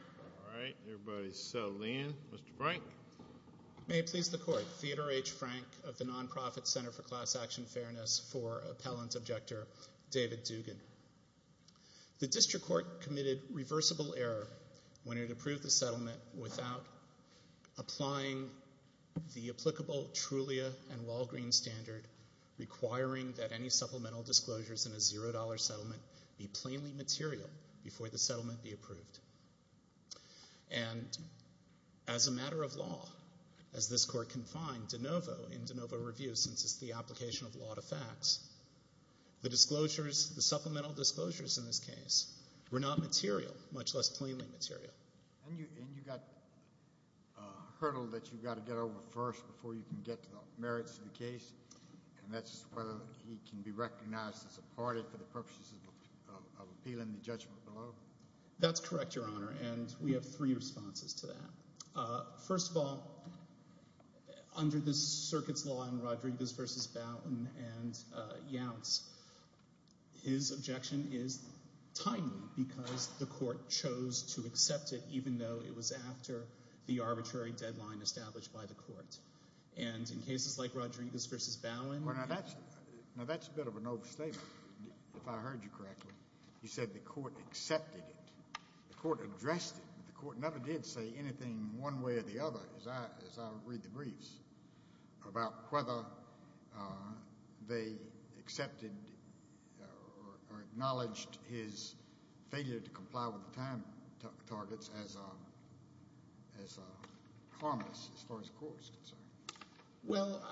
All right, everybody's settled in. Mr. Frank. May it please the court, Theodore H. Frank of the Nonprofit Center for Class Action Fairness for appellant objector David Dugan. The district court committed reversible error when it approved the settlement without applying the applicable Trulia and Walgreens standard requiring that any supplemental disclosures in a zero dollar settlement be plainly material before the settlement be approved. And as a matter of law, as this court confined DeNovo in DeNovo review since it's the application of law to facts, the disclosures, the supplemental disclosures in this case were not material, much less plainly material. And you got a hurdle that you've got to get over first before you can get to the merits of the case, and that's whether he can be recognized as a party for purposes of appealing the judgment law. That's correct, Your Honor, and we have three responses to that. First of all, under the circuit's law in Rodriguez v. Bowen and Yowtz, his objection is timely because the court chose to accept it even though it was after the arbitrary deadline established by the court. And in cases like Rodriguez v. Bowen... Now that's a bit of an overstatement. If I heard you correctly, you said the court accepted it, the court addressed it, but the court never did say anything one way or the other, as I read the briefs, about whether they accepted or acknowledged his failure to comply with the time targets as harmless as far as the court is concerned. Well,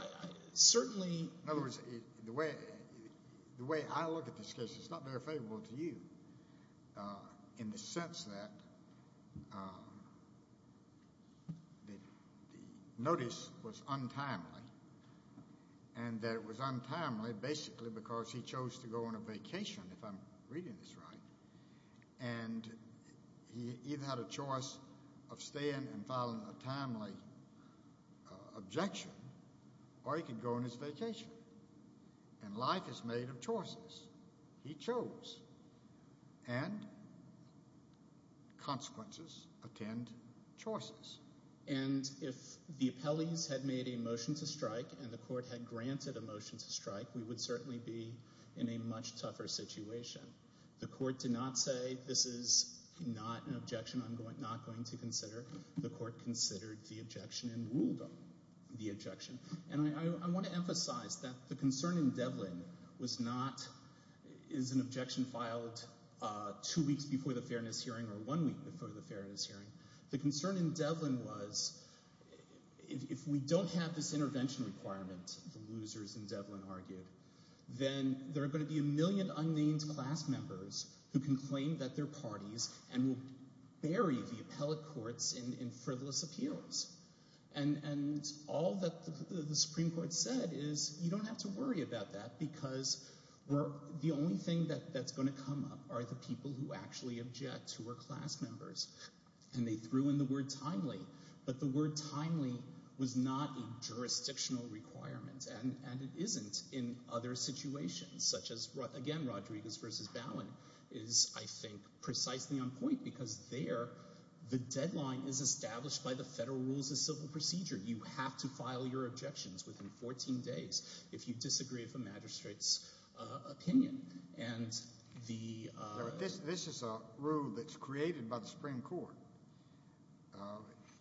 certainly... In other words, the way I look at this case, it's not very favorable to you in the sense that the notice was untimely, and that it was untimely basically because he chose to go on a vacation, if I'm reading this right, and he either had a choice of staying and filing a timely objection, or he could go on his vacation. And life is made of choices. He chose, and consequences attend choices. And if the appellees had made a motion to strike and the court had The court did not say, this is not an objection I'm not going to consider. The court considered the objection and ruled on the objection. And I want to emphasize that the concern in Devlin was not, is an objection filed two weeks before the fairness hearing or one week before the fairness hearing. The concern in Devlin was, if we don't have this intervention requirement, the losers in Devlin argued, then there are going to be a million unnamed class members who can claim that they're parties and will bury the appellate courts in frivolous appeals. And all that the Supreme Court said is, you don't have to worry about that because the only thing that's going to come up are the people who actually object, who are class members. And they threw in the word timely, but the word timely was not a jurisdictional requirement, and it isn't in other situations, such as, again, Rodriguez v. Bowen is, I think, precisely on point because there, the deadline is established by the federal rules of civil procedure. You have to file your objections within 14 days if you disagree with a magistrate's the... This is a rule that's created by the Supreme Court,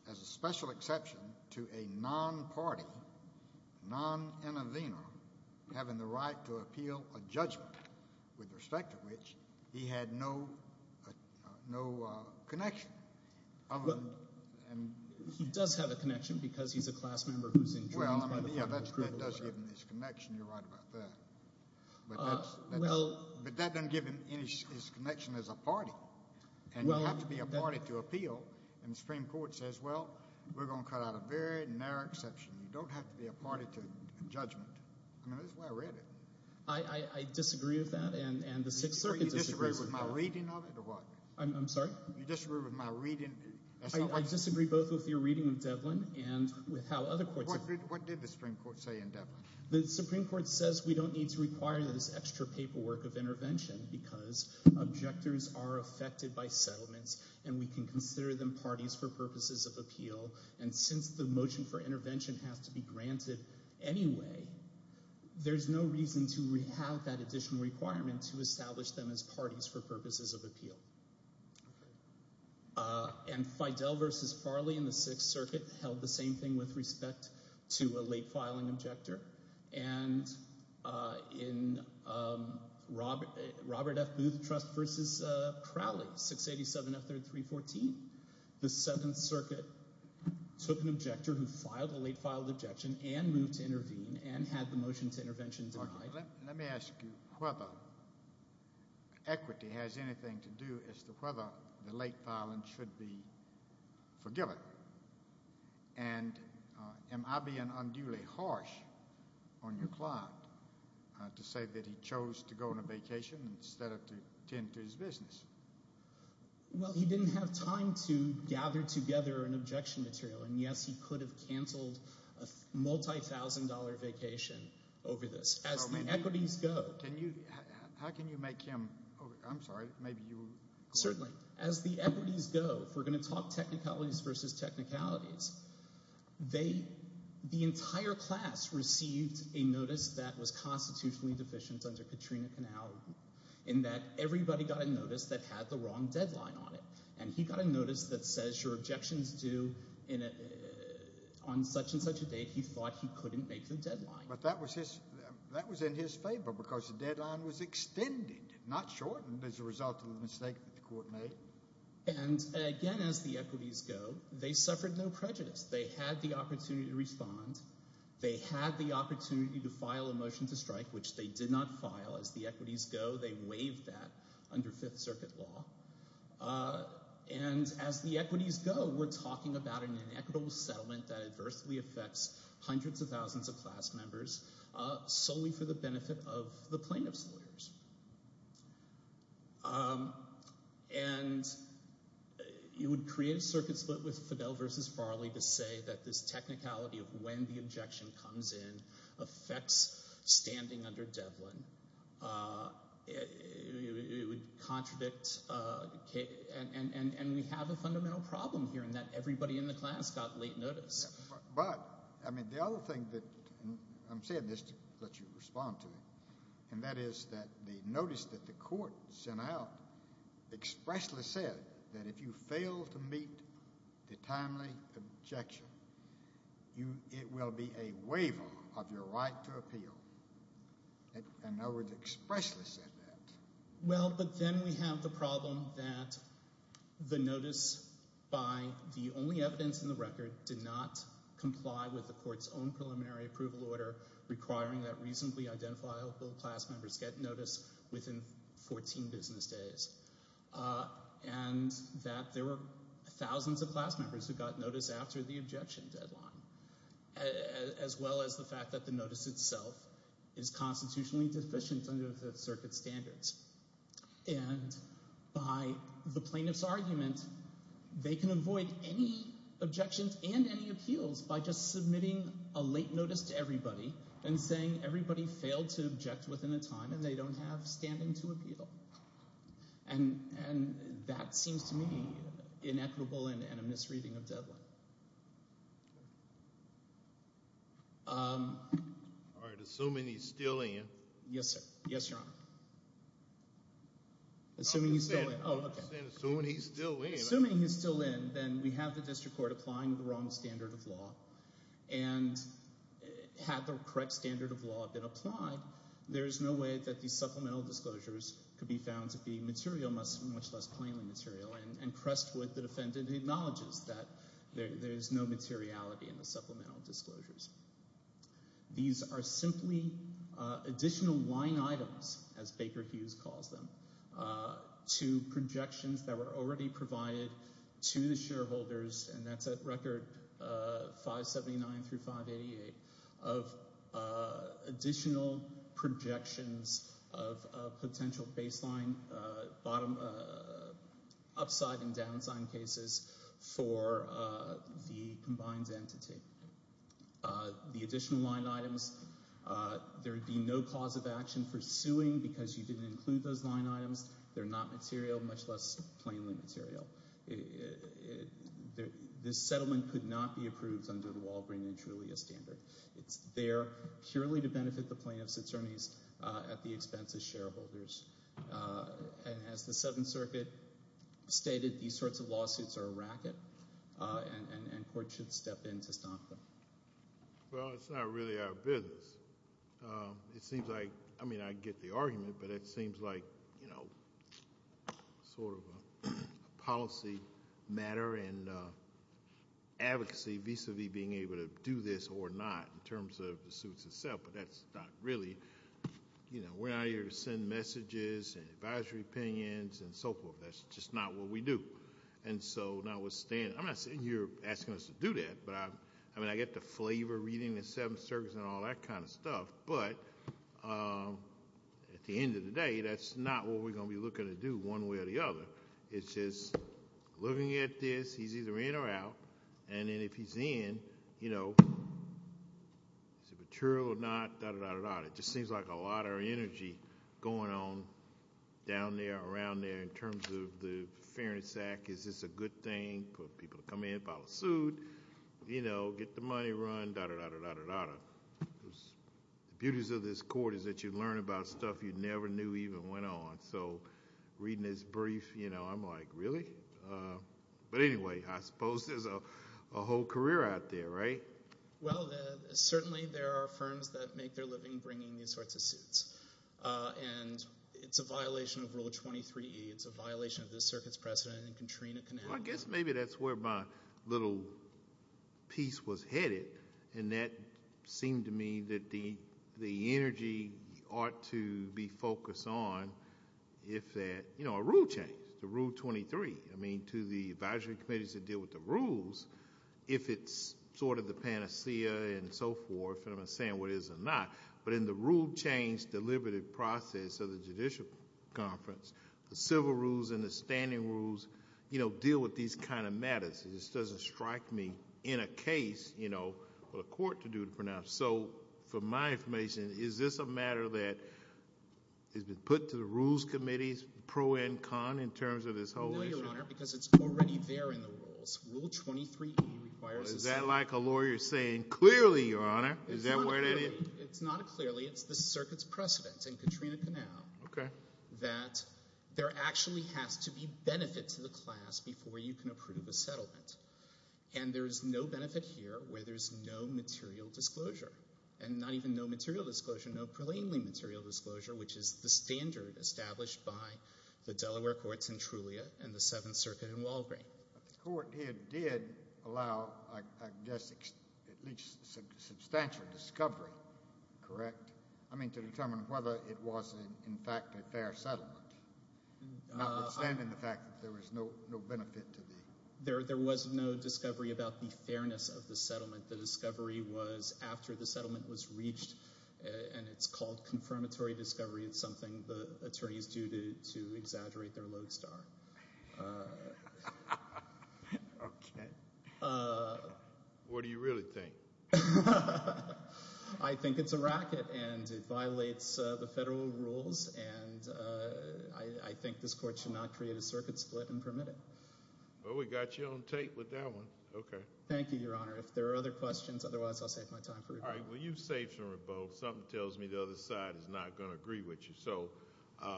as a special exception to a non-party, non-innovator, having the right to appeal a judgment with respect to which he had no connection. He does have a connection because he's a class member who's in... Well, yeah, that does give him his connection. You're right about that, but that doesn't give him his connection as a party, and you have to be a party to appeal, and the Supreme Court says, well, we're going to cut out a very narrow exception. You don't have to be a party to a judgment. I mean, that's the way I read it. I disagree with that, and the Sixth Circuit disagrees with that. You disagree with my reading of it, or what? I'm sorry? You disagree with my reading... I disagree both with your reading of Devlin and with how other courts... What did the Supreme Court say in Devlin? The Supreme Court says we don't need to require this extra paperwork of intervention because objectors are affected by settlements, and we can consider them parties for purposes of appeal, and since the motion for intervention has to be granted anyway, there's no reason to have that additional requirement to establish them as parties for purposes of appeal, and Fidel versus Farley in the Sixth Circuit held the same thing with respect to a late filing objector, and in Robert F. Booth Trust versus Crowley, 687 F314, the Seventh Circuit took an objector who filed a late filed objection and moved to intervene and had the motion to intervention denied. Let me ask you whether equity has anything to do as to whether the late filing should be forgiven, and am I being unduly harsh on your client to say that he chose to go on a vacation instead of to tend to his business? Well, he didn't have time to gather together an objection material, and yes, he could have certainly. As the equities go, if we're going to talk technicalities versus technicalities, they, the entire class received a notice that was constitutionally deficient under Katrina Canal in that everybody got a notice that had the wrong deadline on it, and he got a notice that says your objections due on such and such a date he thought he couldn't make the deadline. But that was his, that was in his favor because the deadline was extended, not shortened, as a result of the mistake that the court made. And again, as the equities go, they suffered no prejudice. They had the opportunity to respond. They had the opportunity to file a motion to strike, which they did not file. As the equities go, they waived that under Fifth Circuit law. And as the equities go, we're talking about an inequitable settlement that adversely affects hundreds of thousands of people. And you would create a circuit split with Fidel versus Farley to say that this technicality of when the objection comes in affects standing under Devlin. It would contradict, and we have a fundamental problem here in that everybody in the class got late notice. But, I mean, the other thing that, I'm saying this to let you respond to it, and that is that the notice that the court sent out expressly said that if you fail to meet the timely objection, it will be a waiver of your right to appeal. In other words, expressly said that. Well, but then we have the problem that the notice, by the only evidence in the record, did not comply with the court's own preliminary approval order requiring that reasonably identifiable class members get notice within 14 business days. And that there were thousands of class members who got notice after the objection deadline, as well as the fact that the notice itself is constitutionally deficient under Fifth Circuit standards. And by the plaintiff's argument, they can avoid any objections and any appeals by just submitting a late notice to everybody failed to object within a time, and they don't have standing to appeal. And that seems to me inequitable and a misreading of Devlin. All right, assuming he's still in. Yes, sir. Yes, Your Honor. Assuming he's still in. Oh, okay. Assuming he's still in. Assuming he's still in, then we have the law being applied. There is no way that these supplemental disclosures could be found to be material, much less plainly material. And pressed with, the defendant acknowledges that there is no materiality in the supplemental disclosures. These are simply additional line items, as Baker Hughes calls them, to projections that were already provided to the shareholders, and that's at record 579 through 588 of additional projections of potential baseline, upside and downside cases for the combined entity. The additional line items, there would be no cause of action for suing because you didn't include those line items. They're not material, much less plainly material. This settlement could not be approved under the Walgreen and Trulia standard. It's there purely to benefit the plaintiff's attorneys at the expense of shareholders. And as the Seventh Circuit stated, these sorts of lawsuits are a racket, and court should step in to stop them. Well, it's not really our business. It seems like, I mean, I get the argument, but it seems like, you know, sort of a policy matter and advocacy vis-a-vis being able to do this or not in terms of the suits itself, but that's not really, you know, we're not here to send messages and advisory opinions and so forth. That's just not what we do. And so notwithstanding, I'm not saying you're asking us to do that, but I mean, I get the flavor reading the Seventh Circuit and all that kind of stuff, but at the end of the day, that's not what we're going to be looking to do one way or the other. It's just looking at this, he's either in or out, and then if he's in, you know, is it material or not, da-da-da-da-da-da. It just seems like a lot of energy going on down there, around there, in terms of the fairness act, is this a good thing for people to come in, file a suit, you know, get the money run, da-da-da-da-da-da-da. The beauties of this court is that you learn about stuff you never knew even went on. So reading this brief, you know, I'm like, really? But anyway, I suppose there's a whole career out there, right? Well, certainly there are firms that make their living bringing these sorts of suits, and it's a violation of Rule 23E. It's a violation of this circuit's precedent, and Katrina can have it. I guess maybe that's where my little piece was headed, and that seemed to me that the energy ought to be focused on if that, you know, a rule change, the Rule 23. I mean, to the advisory committees that deal with the rules, if it's sort of the panacea and so forth, and I'm not saying what is or not, but in the rule change deliberative process of the Judicial Conference, the civil rules and the standing rules, you know, deal with these kind of matters. This doesn't strike me in a case, you know, what a court to do to pronounce. So for my information, is this a matter that has been put to the rules committees pro and con in terms of this whole issue? No, Your Honor, because it's already there in the rules. Rule 23E requires... Is that like a lawyer saying, clearly, Your Honor, is that where it is? It's not clearly. It's the circuit's precedent in Katrina Canal that there actually has to be benefit to the class before you can approve a settlement, and there is no benefit here where there's no material disclosure, and not even no material disclosure, no preliminary material disclosure, which is the standard established by the Delaware Courts in Trulia and the Seventh Circuit in Walgreen. The court here did allow, I guess, at least substantial discovery, correct? I mean, to determine whether it was, in fact, a fair settlement, notwithstanding the fact that there was no benefit to the... There was no discovery about the fairness of the settlement. The discovery was after the settlement was reached, and it's called confirmatory discovery. It's to exaggerate their lodestar. Okay. What do you really think? I think it's a racket, and it violates the federal rules, and I think this court should not create a circuit split and permit it. Well, we got you on tape with that one. Okay. Thank you, Your Honor. If there are other questions, otherwise, I'll save my time for rebuttal. All right. Well, you've saved some rebuttal. Something tells me the other side is not going to agree with you, so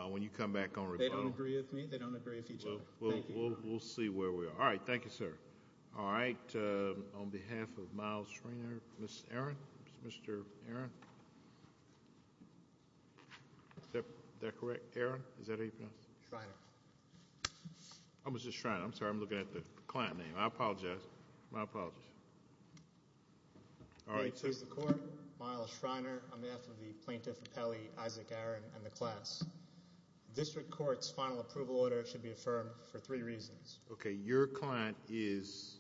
when you come back on rebuttal... They don't agree with me. They don't agree with each other. Well, we'll see where we are. All right. Thank you, sir. All right. On behalf of Miles Shriner, Ms. Aron? Mr. Aron? Is that correct? Aron? Is that how you pronounce it? Shriner. Oh, Mr. Shriner. I'm sorry. I'm looking at the client name. I apologize. My apologies. All right. Here's the court. Miles Shriner, on behalf of the plaintiff, Isaac Aron, and the class, district court's final approval order should be affirmed for three reasons. Okay. Your client is...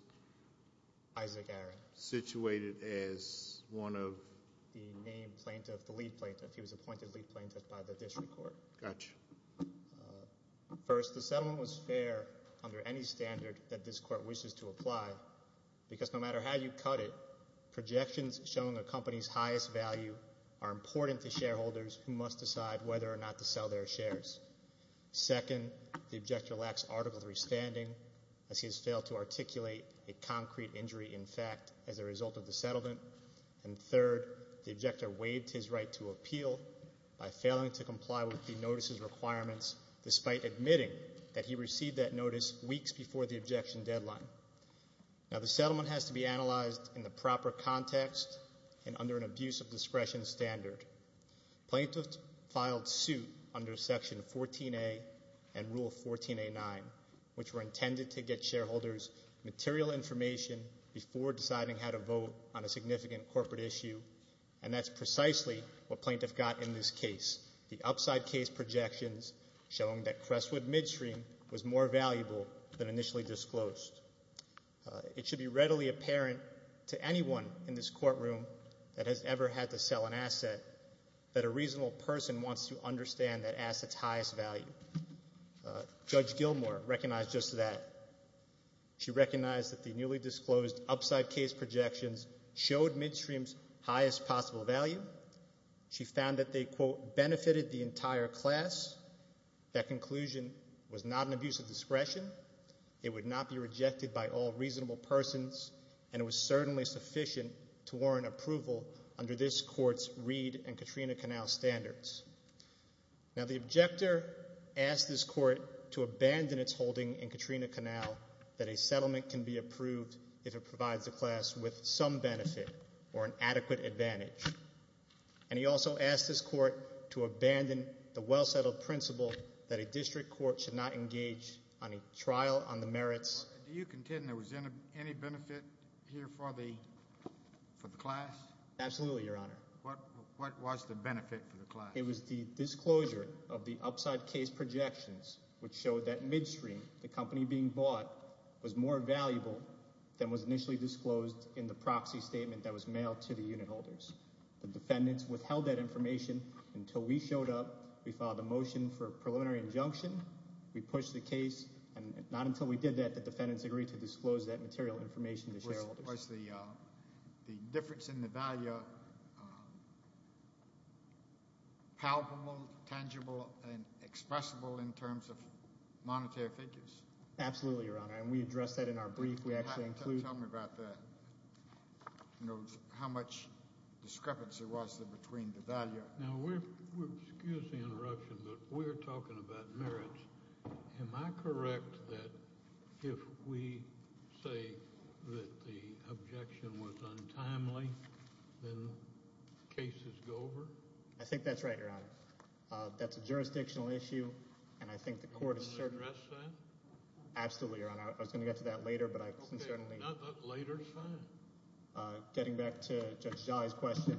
Isaac Aron. ...situated as one of... The main plaintiff, the lead plaintiff. He was appointed lead plaintiff by the district court. Gotcha. First, the settlement was fair under any standard that this court wishes to apply, because no matter how you cut it, projections showing a company's highest value are important to shareholders who must decide whether or not to sell their shares. Second, the objector lacks article 3 standing, as he has failed to articulate a concrete injury, in fact, as a result of the settlement. And third, the objector waived his right to appeal by failing to comply with the notices requirements, despite admitting that he received that notice weeks before the objection deadline. Now, the settlement has to be analyzed in the proper context and under an abuse of discretion standard. Plaintiff filed suit under Section 14A and Rule 14A9, which were intended to get shareholders material information before deciding how to vote on a significant corporate issue, and that's precisely what plaintiff got in this case. The upside case projections showing that Crestwood Midstream was more valuable than in this courtroom that has ever had to sell an asset, that a reasonable person wants to understand that asset's highest value. Judge Gilmour recognized just that. She recognized that the newly disclosed upside case projections showed Midstream's highest possible value. She found that they, quote, benefited the entire class. That conclusion was not an abuse of discretion. Now, the objector asked this court to abandon its holding in Katrina Canal that a settlement can be approved if it provides the class with some benefit or an adequate advantage. And he also asked this court to abandon the well-settled principle that a district court should not engage on a trial on the merits. Do you contend there was any benefit here for the class? Absolutely, Your Honor. What was the benefit for the class? It was the disclosure of the upside case projections, which showed that Midstream, the company being bought, was more valuable than was initially disclosed in the proxy statement that was mailed to the unit holders. The defendants withheld that information until we showed up. We filed a motion for a preliminary injunction. We pushed the case, and not until we did that, the defendants agreed to disclose that material information to shareholders. Was the difference in the value palpable, tangible, and expressible in terms of monetary figures? Absolutely, Your Honor, and we addressed that in our brief. Tell me about that. How much discrepancy was there between the say that the objection was untimely and the cases go over? I think that's right, Your Honor. That's a jurisdictional issue, and I think the court has certainly addressed that. Absolutely, Your Honor. I was going to get to that later, but I certainly... Okay, later is fine. Getting back to Judge Jolly's question,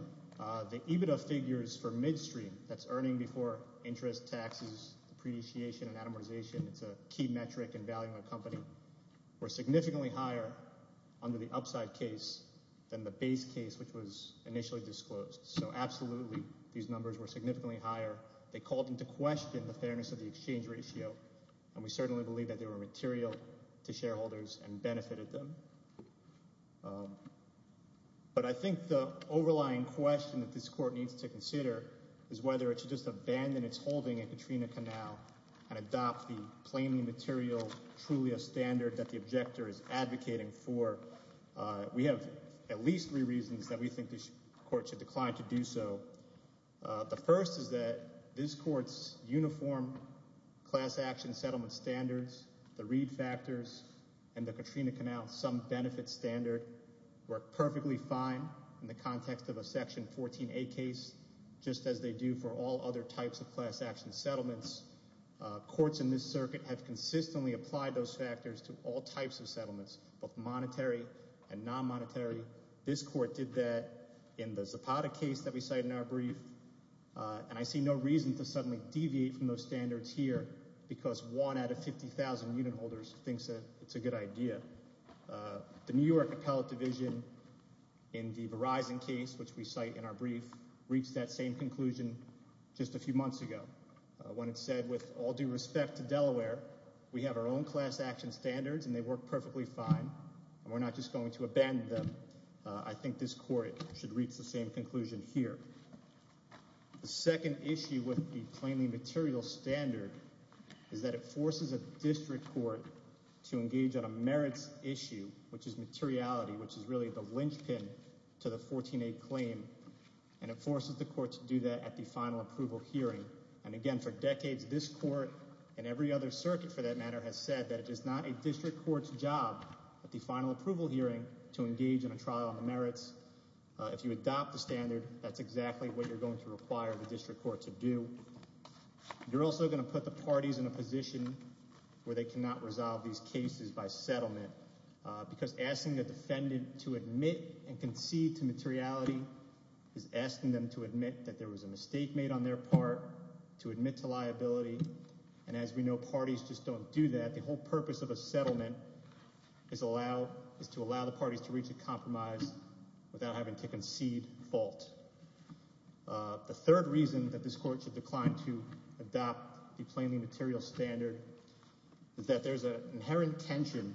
the EBITDA figures for Midstream, that's Earning Before Interest, Taxes, Depreciation, and Atomization, it's a key metric in valuing a shareholder's assets. The numbers were significantly higher under the upside case than the base case, which was initially disclosed. So absolutely, these numbers were significantly higher. They called into question the fairness of the exchange ratio, and we certainly believe that they were material to shareholders and benefited them. But I think the overlying question that this court needs to consider is whether it should just abandon its holding at Katrina Canal and adopt plainly material, truly a standard that the objector is advocating for. We have at least three reasons that we think this court should decline to do so. The first is that this court's uniform class action settlement standards, the Reed factors, and the Katrina Canal sum benefit standard work perfectly fine in the context of a Section 14a case, just as they do for all other types of class action settlements. Courts in this circuit have consistently applied those factors to all types of settlements, both monetary and non-monetary. This court did that in the Zapata case that we cite in our brief, and I see no reason to suddenly deviate from those standards here, because one out of 50,000 unit holders thinks that it's a good idea. The New York Appellate Division in the Verizon case, which we cite in our brief, reached that same conclusion just a few months ago when it said, with all due respect to Delaware, we have our own class action standards and they work perfectly fine, and we're not just going to abandon them. I think this court should reach the same conclusion here. The second issue with the plainly material standard is that it forces a district court to engage on a merits issue, which is materiality, which is really the linchpin to the 14a claim, and it forces the court to do that at the final approval hearing. Again, for decades, this court and every other circuit, for that matter, has said that it is not a district court's job at the final approval hearing to engage in a trial on the merits. If you adopt the standard, that's exactly what you're going to require the district court to do. You're also going to put the parties in a position where they cannot resolve these issues. The third reason that this court should decline to adopt the plainly material standard is that there's an inherent tension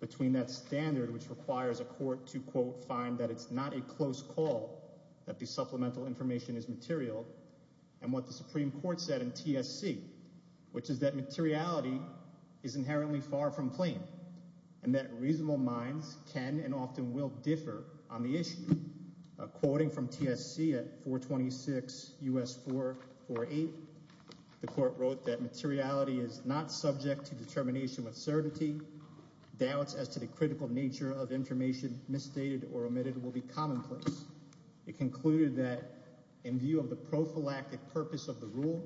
between that standard, which requires a court to, quote, find that it's not a close call that the supplemental information is material, and what the Supreme Court said in TSC, which is that materiality is inherently far from plain, and that reasonable minds can and often will differ on the issue. Quoting from TSC at 426 U.S. 448, the court wrote that materiality is not subject to determination with certainty. Doubts as to the critical nature of information misstated or omitted will be commonplace. It concluded that in view of the prophylactic purpose of the rule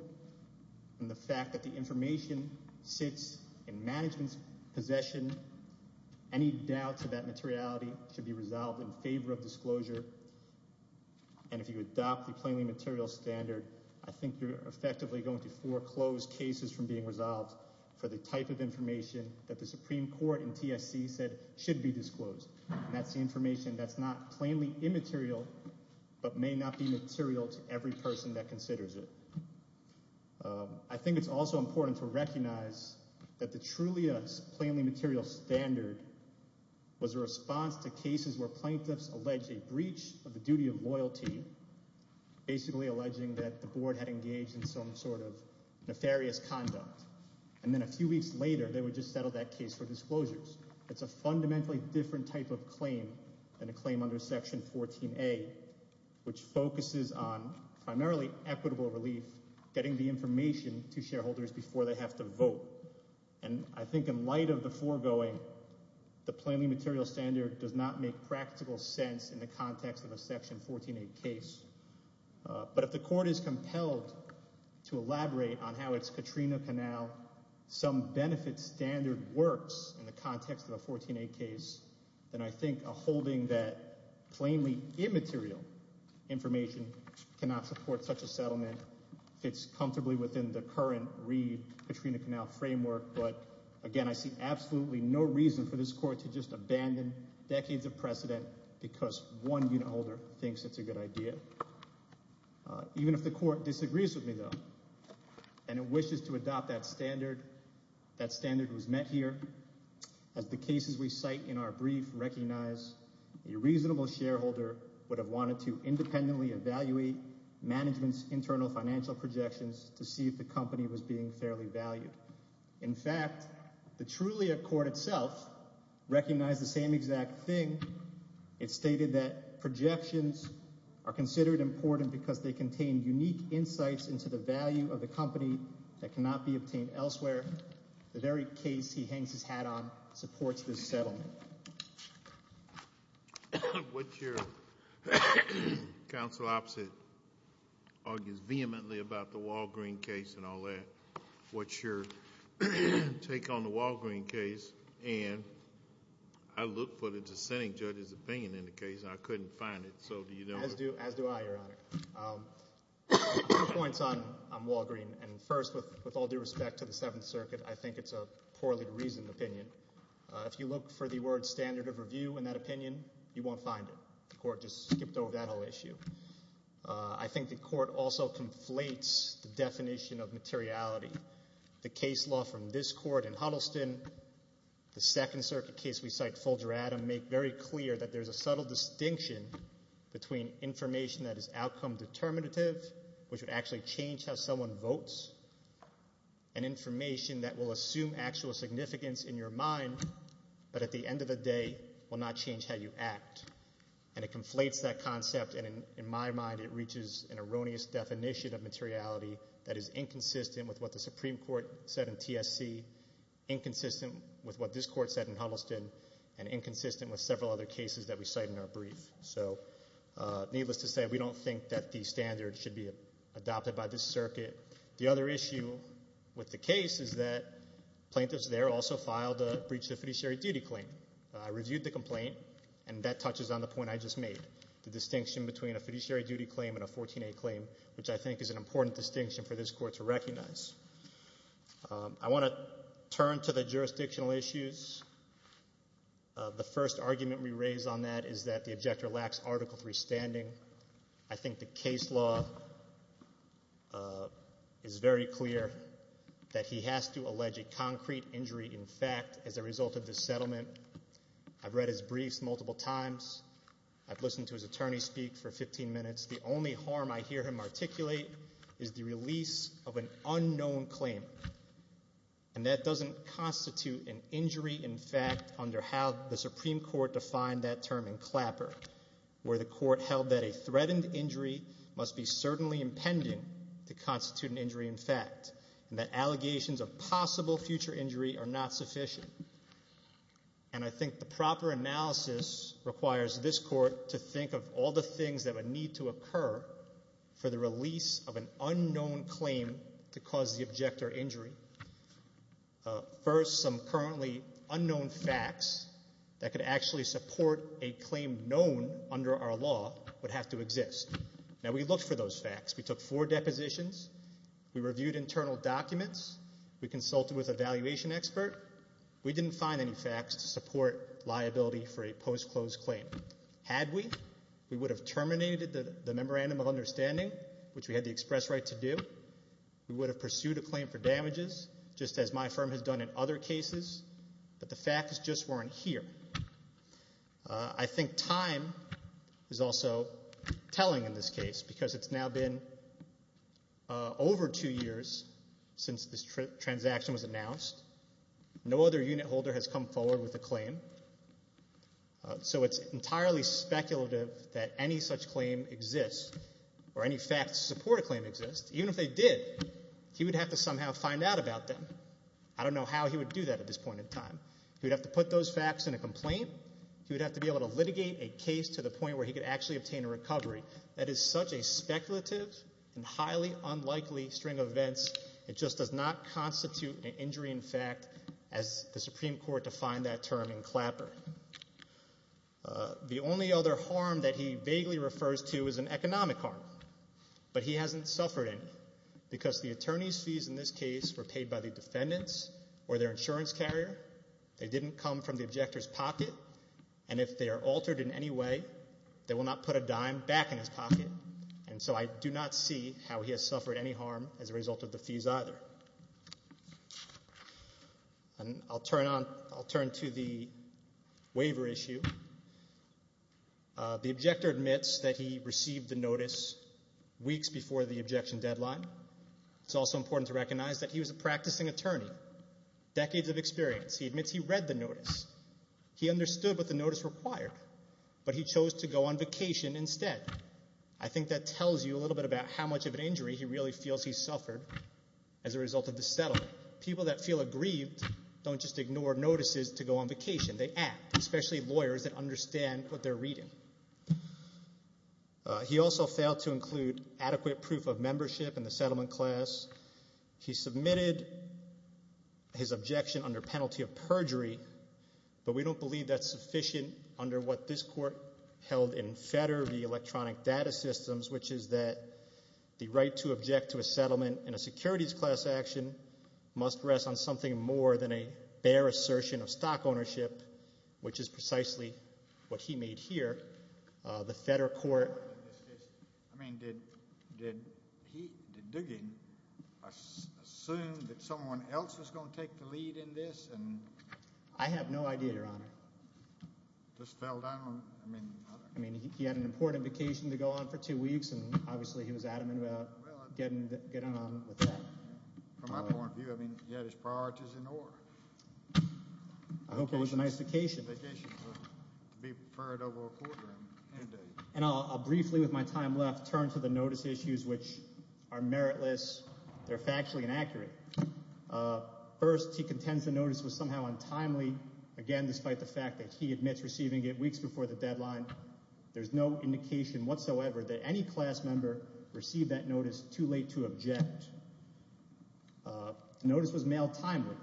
and the fact that the information sits in management's possession, any doubts of that materiality should be resolved in favor of disclosure, and if you adopt the plainly material standard, I think you're effectively going to foreclose cases from being resolved for the type of information that the Supreme Court in TSC said should be disclosed, and that's the information that's not plainly immaterial but may not be material to every person that considers it. I think it's also important to recognize that the Trulia's plainly material standard was a response to cases where plaintiffs allege a breach of the duty of loyalty, basically alleging that the board had engaged in some sort of nefarious conduct. And then a few weeks later, they would just settle that case for disclosures. It's a fundamentally different type of claim than a claim under Section 14A, which focuses on primarily equitable relief, getting the information to shareholders before they have to vote, and I think in light of the foregoing, the plainly material standard does not make practical sense in the context of a Section 14A case, but if the court is compelled to elaborate on how its Katrina Canal some benefit standard works in the context of a 14A case, then I think a holding that plainly immaterial information cannot support such a settlement fits comfortably within the current Reed-Katrina Canal framework. But again, I see absolutely no reason for this court to just abandon decades of precedent because one unit holder thinks it's a good idea. Even if the court disagrees with me, though, and it wishes to adopt that standard, that standard was met here as the cases we cite in our brief recognize a reasonable shareholder would have wanted to independently evaluate management's internal financial projections to see if the company was being fairly valued. In fact, the Trulia court itself recognized the same exact thing. It stated that projections are considered important because they contain unique insights into the value of the company that cannot be obtained elsewhere. The very case he hangs his hat on supports this settlement. What your counsel opposite argues vehemently about the judge's opinion in the case. I couldn't find it. As do I, Your Honor. Two points on Walgreen. And first, with all due respect to the Seventh Circuit, I think it's a poorly reasoned opinion. If you look for the word standard of review in that opinion, you won't find it. The court just skipped over that whole issue. I think the court also conflates the definition of materiality. The case law from this court in Huddleston, the Second Circuit case we cite Folger Adam, make very clear that there's a subtle distinction between information that is outcome determinative, which would actually change how someone votes, and information that will assume actual significance in your mind, but at the end of the day will not change how you act. And it conflates that concept, and in my mind, it reaches an erroneous definition of materiality that is inconsistent with what the Supreme Court said in TSC, inconsistent with what this court said in Huddleston, and inconsistent with several other cases that we cite in our brief. So needless to say, we don't think that the standard should be adopted by this circuit. The other issue with the case is that plaintiffs there also filed a breach of fiduciary duty claim. I reviewed the complaint, and that touches on the point I just made, the distinction between a fiduciary duty claim and a 14A claim, which I want to turn to the jurisdictional issues. The first argument we raise on that is that the objector lacks Article 3 standing. I think the case law is very clear that he has to allege a concrete injury in fact as a result of this settlement. I've read his briefs multiple times. I've listened to his attorney speak for 15 minutes. The only harm I hear him articulate is the release of an unknown claim, and that doesn't constitute an injury in fact under how the Supreme Court defined that term in Clapper, where the court held that a threatened injury must be certainly impending to constitute an injury in fact, and that allegations of possible future injury are not sufficient. And I think the proper analysis requires this court to think of all the things that would need to occur for the release of an unknown claim to cause the objector injury. First, some currently unknown facts that could actually support a claim known under our law would have to exist. Now we looked for those facts. We took four depositions. We reviewed internal documents. We consulted with a valuation expert. We didn't find any facts to for a post-closed claim. Had we, we would have terminated the memorandum of understanding, which we had the express right to do. We would have pursued a claim for damages, just as my firm has done in other cases, but the facts just weren't here. I think time is also telling in this case because it's now been over two years since this transaction was announced. No other unit holder has come forward with a claim. So it's entirely speculative that any such claim exists or any facts to support a claim exist. Even if they did, he would have to somehow find out about them. I don't know how he would do that at this point in time. He would have to put those facts in a complaint. He would have to be able to litigate a case to the point where he could actually obtain a recovery. That is such a speculative and highly unlikely string of events. It just does not constitute an injury in fact, as the Supreme Court defined that term in Clapper. The only other harm that he vaguely refers to is an economic harm, but he hasn't suffered any because the attorney's fees in this case were paid by the defendants or their insurance carrier. They didn't come from the objector's pocket, and if they are altered in any way, they will not put a dime back in his pocket. And so I do not see how he has suffered any harm as a result of the fees either. And I'll turn to the waiver issue. The objector admits that he received the notice weeks before the objection deadline. It's also important to recognize that he was a practicing attorney, decades of experience. He admits he read the notice. He understood what notice required, but he chose to go on vacation instead. I think that tells you a little bit about how much of an injury he really feels he suffered as a result of the settlement. People that feel aggrieved don't just ignore notices to go on vacation. They act, especially lawyers that understand what they're reading. He also failed to include adequate proof of membership in the settlement class. He submitted his objection under penalty of perjury, but we don't believe that's sufficient under what this court held in FEDER, the electronic data systems, which is that the right to object to a settlement in a securities class action must rest on something more than a bare assertion of stock ownership, which is precisely what he made here. The FEDER court... I mean, did Duggan assume that someone else was going to take the lead in this? I have no idea, Your Honor. He just fell down. I mean, he had an important vacation to go on for two weeks, and obviously he was adamant about getting on with that. From my point of view, I mean, he had his priorities in order. I hope it was a nice vacation. And I'll briefly, with my time left, turn to the The notice was somehow untimely. Again, despite the fact that he admits receiving it weeks before the deadline, there's no indication whatsoever that any class member received that notice too late to object. The notice was mailed timely.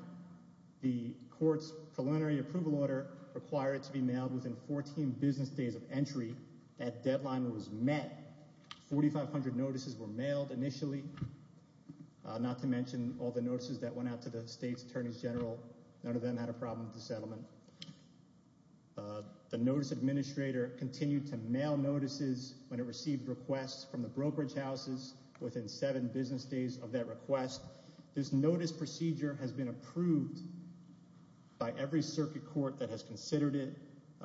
The court's preliminary approval order required it to be mailed within 14 business days of entry. That deadline was met. 4,500 notices were mailed initially, not to mention all the notices that went out to the state's attorneys general. None of them had a problem with the settlement. The notice administrator continued to mail notices when it received requests from the brokerage houses within seven business days of that request. This notice procedure has been approved by every circuit court that has considered it.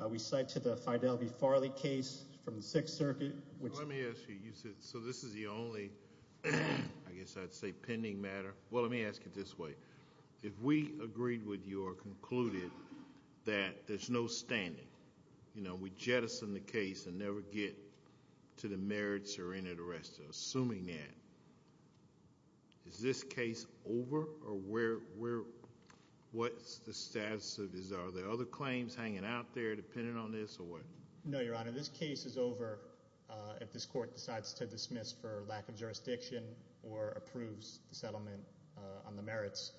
We cite to the Fidel V. Farley case from the Sixth Circuit. Let me ask you, you said, so this is the only, I guess I'd say, pending matter. Well, let me ask it this way. If we agreed with you or concluded that there's no standing, you know, we jettison the case and never get to the merits or any of the rest of it, assuming that, is this case over or what's the status of this? Are there other claims hanging out there on this or what? No, your honor, this case is over if this court decides to dismiss for lack of jurisdiction or approves the settlement on the merits.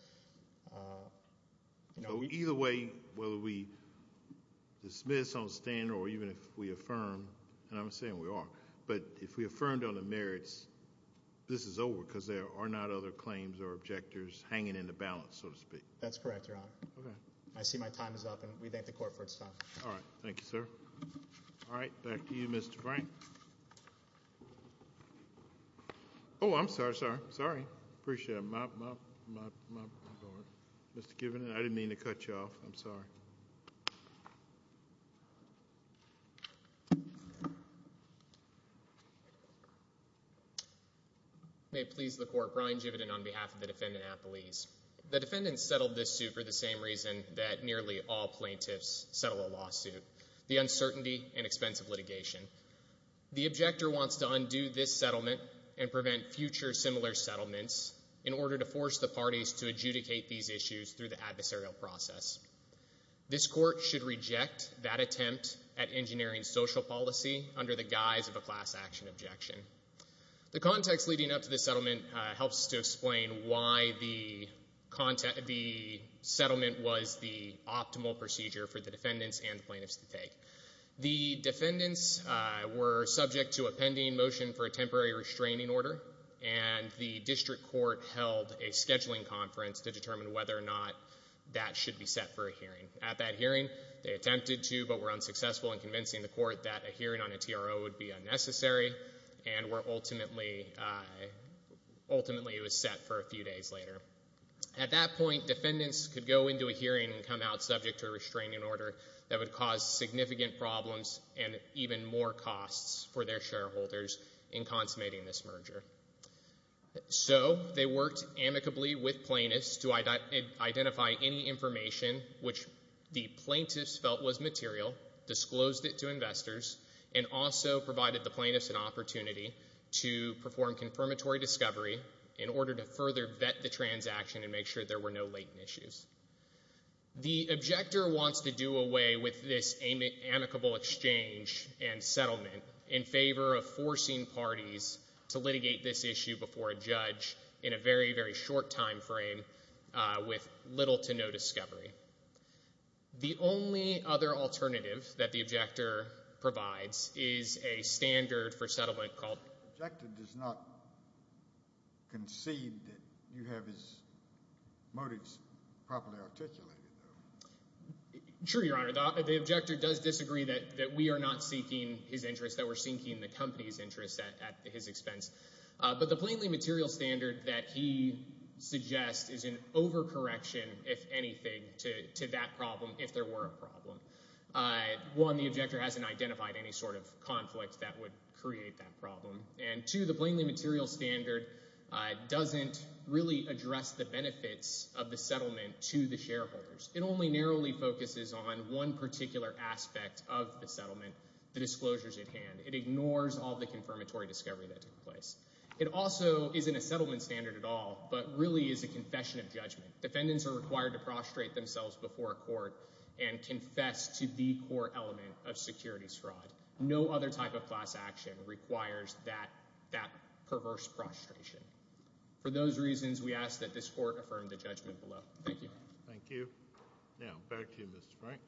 Either way, whether we dismiss on standing or even if we affirm, and I'm saying we are, but if we affirmed on the merits, this is over because there are not other claims or objectors hanging in the balance, so to speak. That's correct, your honor. Okay. I see my time is up and we thank the court for its time. All right. Thank you, sir. All right. Back to you, Mr. Frank. Oh, I'm sorry. Sorry. Sorry. Appreciate it. Mr. Kiven, I didn't mean to cut you off. I'm sorry. May it please the court. Brian Jividen on behalf of the defendant at police. The defendant settled this suit for the same reason that nearly all plaintiffs settle a lawsuit, the uncertainty and expense of litigation. The objector wants to undo this settlement and prevent future similar settlements in order to force the parties to adjudicate these issues through the adversarial process. This court should reject that attempt at engineering social policy under the guise of a class action objection. The context leading up to this settlement helps to explain why the content of the settlement was the optimal procedure for the defendants and plaintiffs to take. The defendants were subject to a pending motion for a temporary restraining order and the district court held a scheduling conference to determine whether or not that should be set for a hearing. At that hearing, they attempted to but were unsuccessful in convincing the court that a ultimately it was set for a few days later. At that point, defendants could go into a hearing and come out subject to a restraining order that would cause significant problems and even more costs for their shareholders in consummating this merger. So they worked amicably with plaintiffs to identify any information which the plaintiffs felt was material, disclosed it to investors, and also provided the plaintiffs an opportunity to perform confirmatory discovery in order to further vet the transaction and make sure there were no latent issues. The objector wants to do away with this amicable exchange and settlement in favor of forcing parties to litigate this issue before a judge in a very, very short time frame with little to no discovery. The only other alternative that the objector provides is a standard for settlement called... The objector does not concede that you have his motives properly articulated, though. True, Your Honor. The objector does disagree that we are not seeking his interest, that we're seeking the company's interest at his expense. But the plainly material standard that he suggests is an overcorrection, if anything, to that problem if there were a problem. One, the objector hasn't identified any sort of conflict that would create that problem. And two, the plainly material standard doesn't really address the benefits of the settlement to the shareholders. It only narrowly focuses on one particular aspect of the settlement, the disclosures at hand. It ignores all the confirmatory discovery that took place. It also isn't a settlement standard at all, but really is a confession of judgment. Defendants are required to prostrate themselves before a court and confess to the core element of securities fraud. No other type of class action requires that perverse prostration. For those reasons, we ask that this court affirm the judgment below. Thank you. Thank you. Now, back to you, Mr. Frank.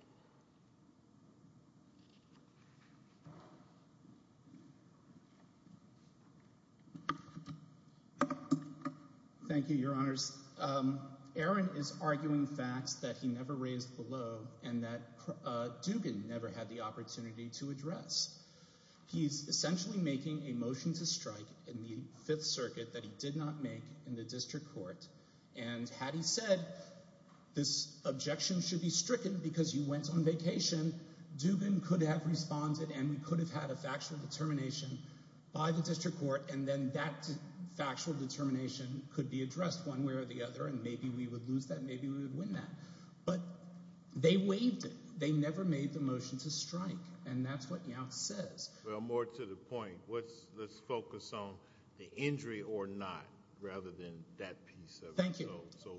Thank you, Your Honors. Aaron is arguing facts that he never raised below and that Dugan never had the opportunity to address. He's essentially making a motion to strike in the Fifth Circuit that he did not make in the district court. And had he said, this objection should be stricken because you went on vacation, Dugan could have responded and we could have had a factual determination by the district court, and then that factual determination could be addressed one way or the other, and maybe we would lose that, maybe we would win that. But they waived it. They never made the motion to strike, and that's what Yance says. Well, more to the point, let's focus on the injury or not. Rather than that piece of it. Thank you. So,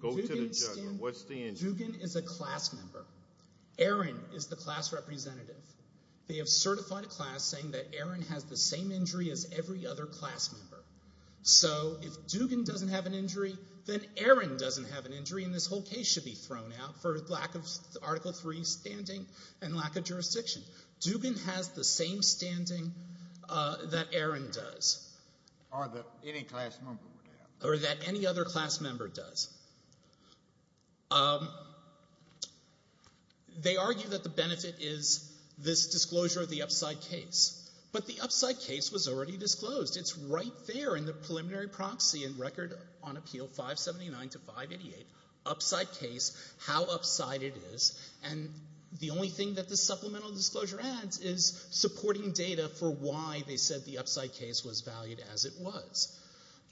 go to the judgment. What's the injury? Dugan is a class member. Aaron is the class representative. They have certified a class saying that Aaron has the same injury as every other class member. So, if Dugan doesn't have an injury, then Aaron doesn't have an injury, and this whole case should be thrown out for lack of Article III standing and lack of jurisdiction. Dugan has the same standing that Aaron does. Or that any class member would have. Or that any other class member does. They argue that the benefit is this disclosure of the upside case, but the upside case was already disclosed. It's right there in the preliminary proxy in Record on Appeal 579 to 588, upside case, how upside it is, and the only thing that the supplemental disclosure adds is supporting data for why they said the upside case was valued as it was.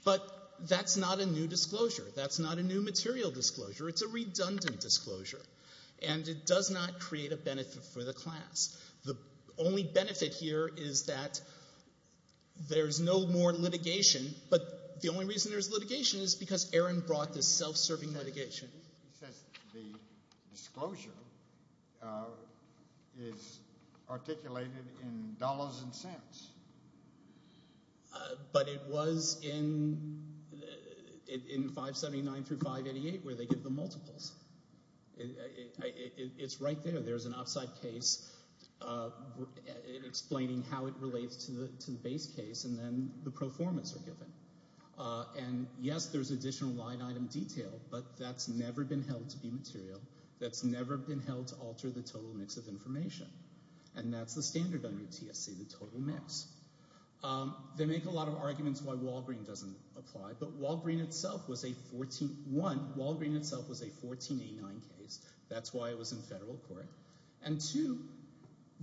But that's not a new disclosure. That's not a new material disclosure. It's a redundant disclosure, and it does not create a benefit for the class. The only benefit here is that there's no more litigation, but the only reason there's serving litigation. He says the disclosure is articulated in dollars and cents. But it was in 579 through 588 where they give the multiples. It's right there. There's an upside case explaining how it relates to the base case, and then the pro formas are given. And yes, there's additional line item detail, but that's never been held to be material. That's never been held to alter the total mix of information. And that's the standard on your TSC, the total mix. They make a lot of arguments why Walgreen doesn't apply, but Walgreen itself was a 1489 case. That's why it was in federal court. And two,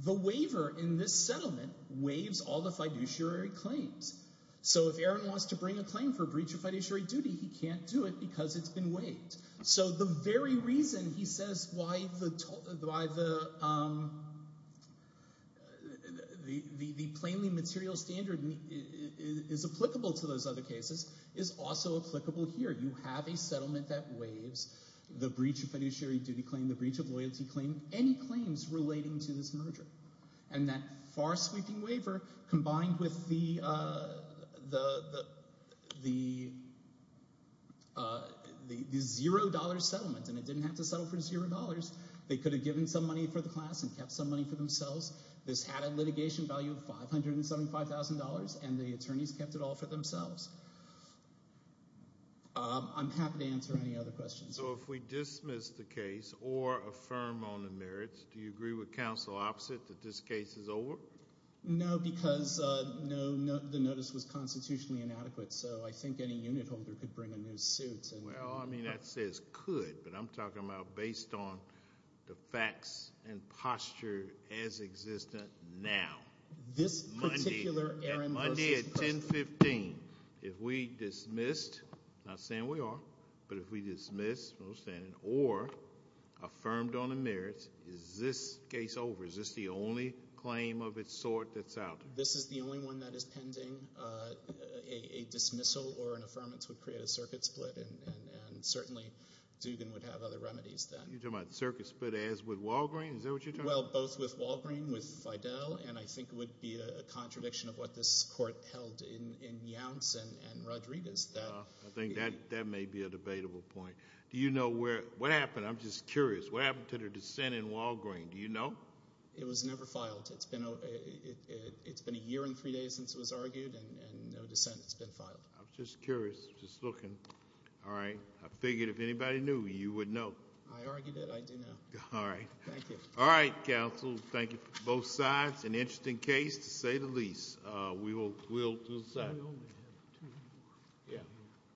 the waiver in this settlement waives all the fiduciary claims. So if Aaron wants to bring a claim for a breach of fiduciary duty, he can't do it because it's been waived. So the very reason he says why the plainly material standard is applicable to those other cases is also applicable here. You have a settlement that waives the breach of fiduciary duty claim, the breach of loyalty claim, any claims relating to this merger. And that far sweeping waiver combined with the $0 settlement, and it didn't have to settle for $0. They could have given some money for the class and kept some money for themselves. This had a litigation value of $575,000, and the attorneys kept it all for themselves. I'm happy to answer any other questions. So if we dismiss the case or affirm on the merits, do you agree with counsel opposite that this case is over? No, because the notice was constitutionally inadequate. So I think any unit holder could bring a new suit. Well, I mean, that says could, but I'm talking about based on the facts and posture as existent now. This particular Aaron versus Preston. Monday at 1015, if we dismissed, not saying we are, but if we dismiss, or affirmed on the merits, is this case over? Is this the only claim of its sort that's out? This is the only one that is pending. A dismissal or an affirmance would create a circuit split, and certainly Dugan would have other remedies then. You're talking about circuit split as with Walgreen? Is that what you're talking about? Well, both with Walgreen, with Fidel, and I think it would be a contradiction of what this court held in Younts and Rodriguez. I think that may be a contradiction. What happened to the dissent in Walgreen? Do you know? It was never filed. It's been a year and three days since it was argued, and no dissent has been filed. I'm just curious. Just looking. All right. I figured if anybody knew, you would know. I argued it. I do know. All right. Thank you. All right, counsel. Thank you for both sides. An interesting case, to say the least. We will decide.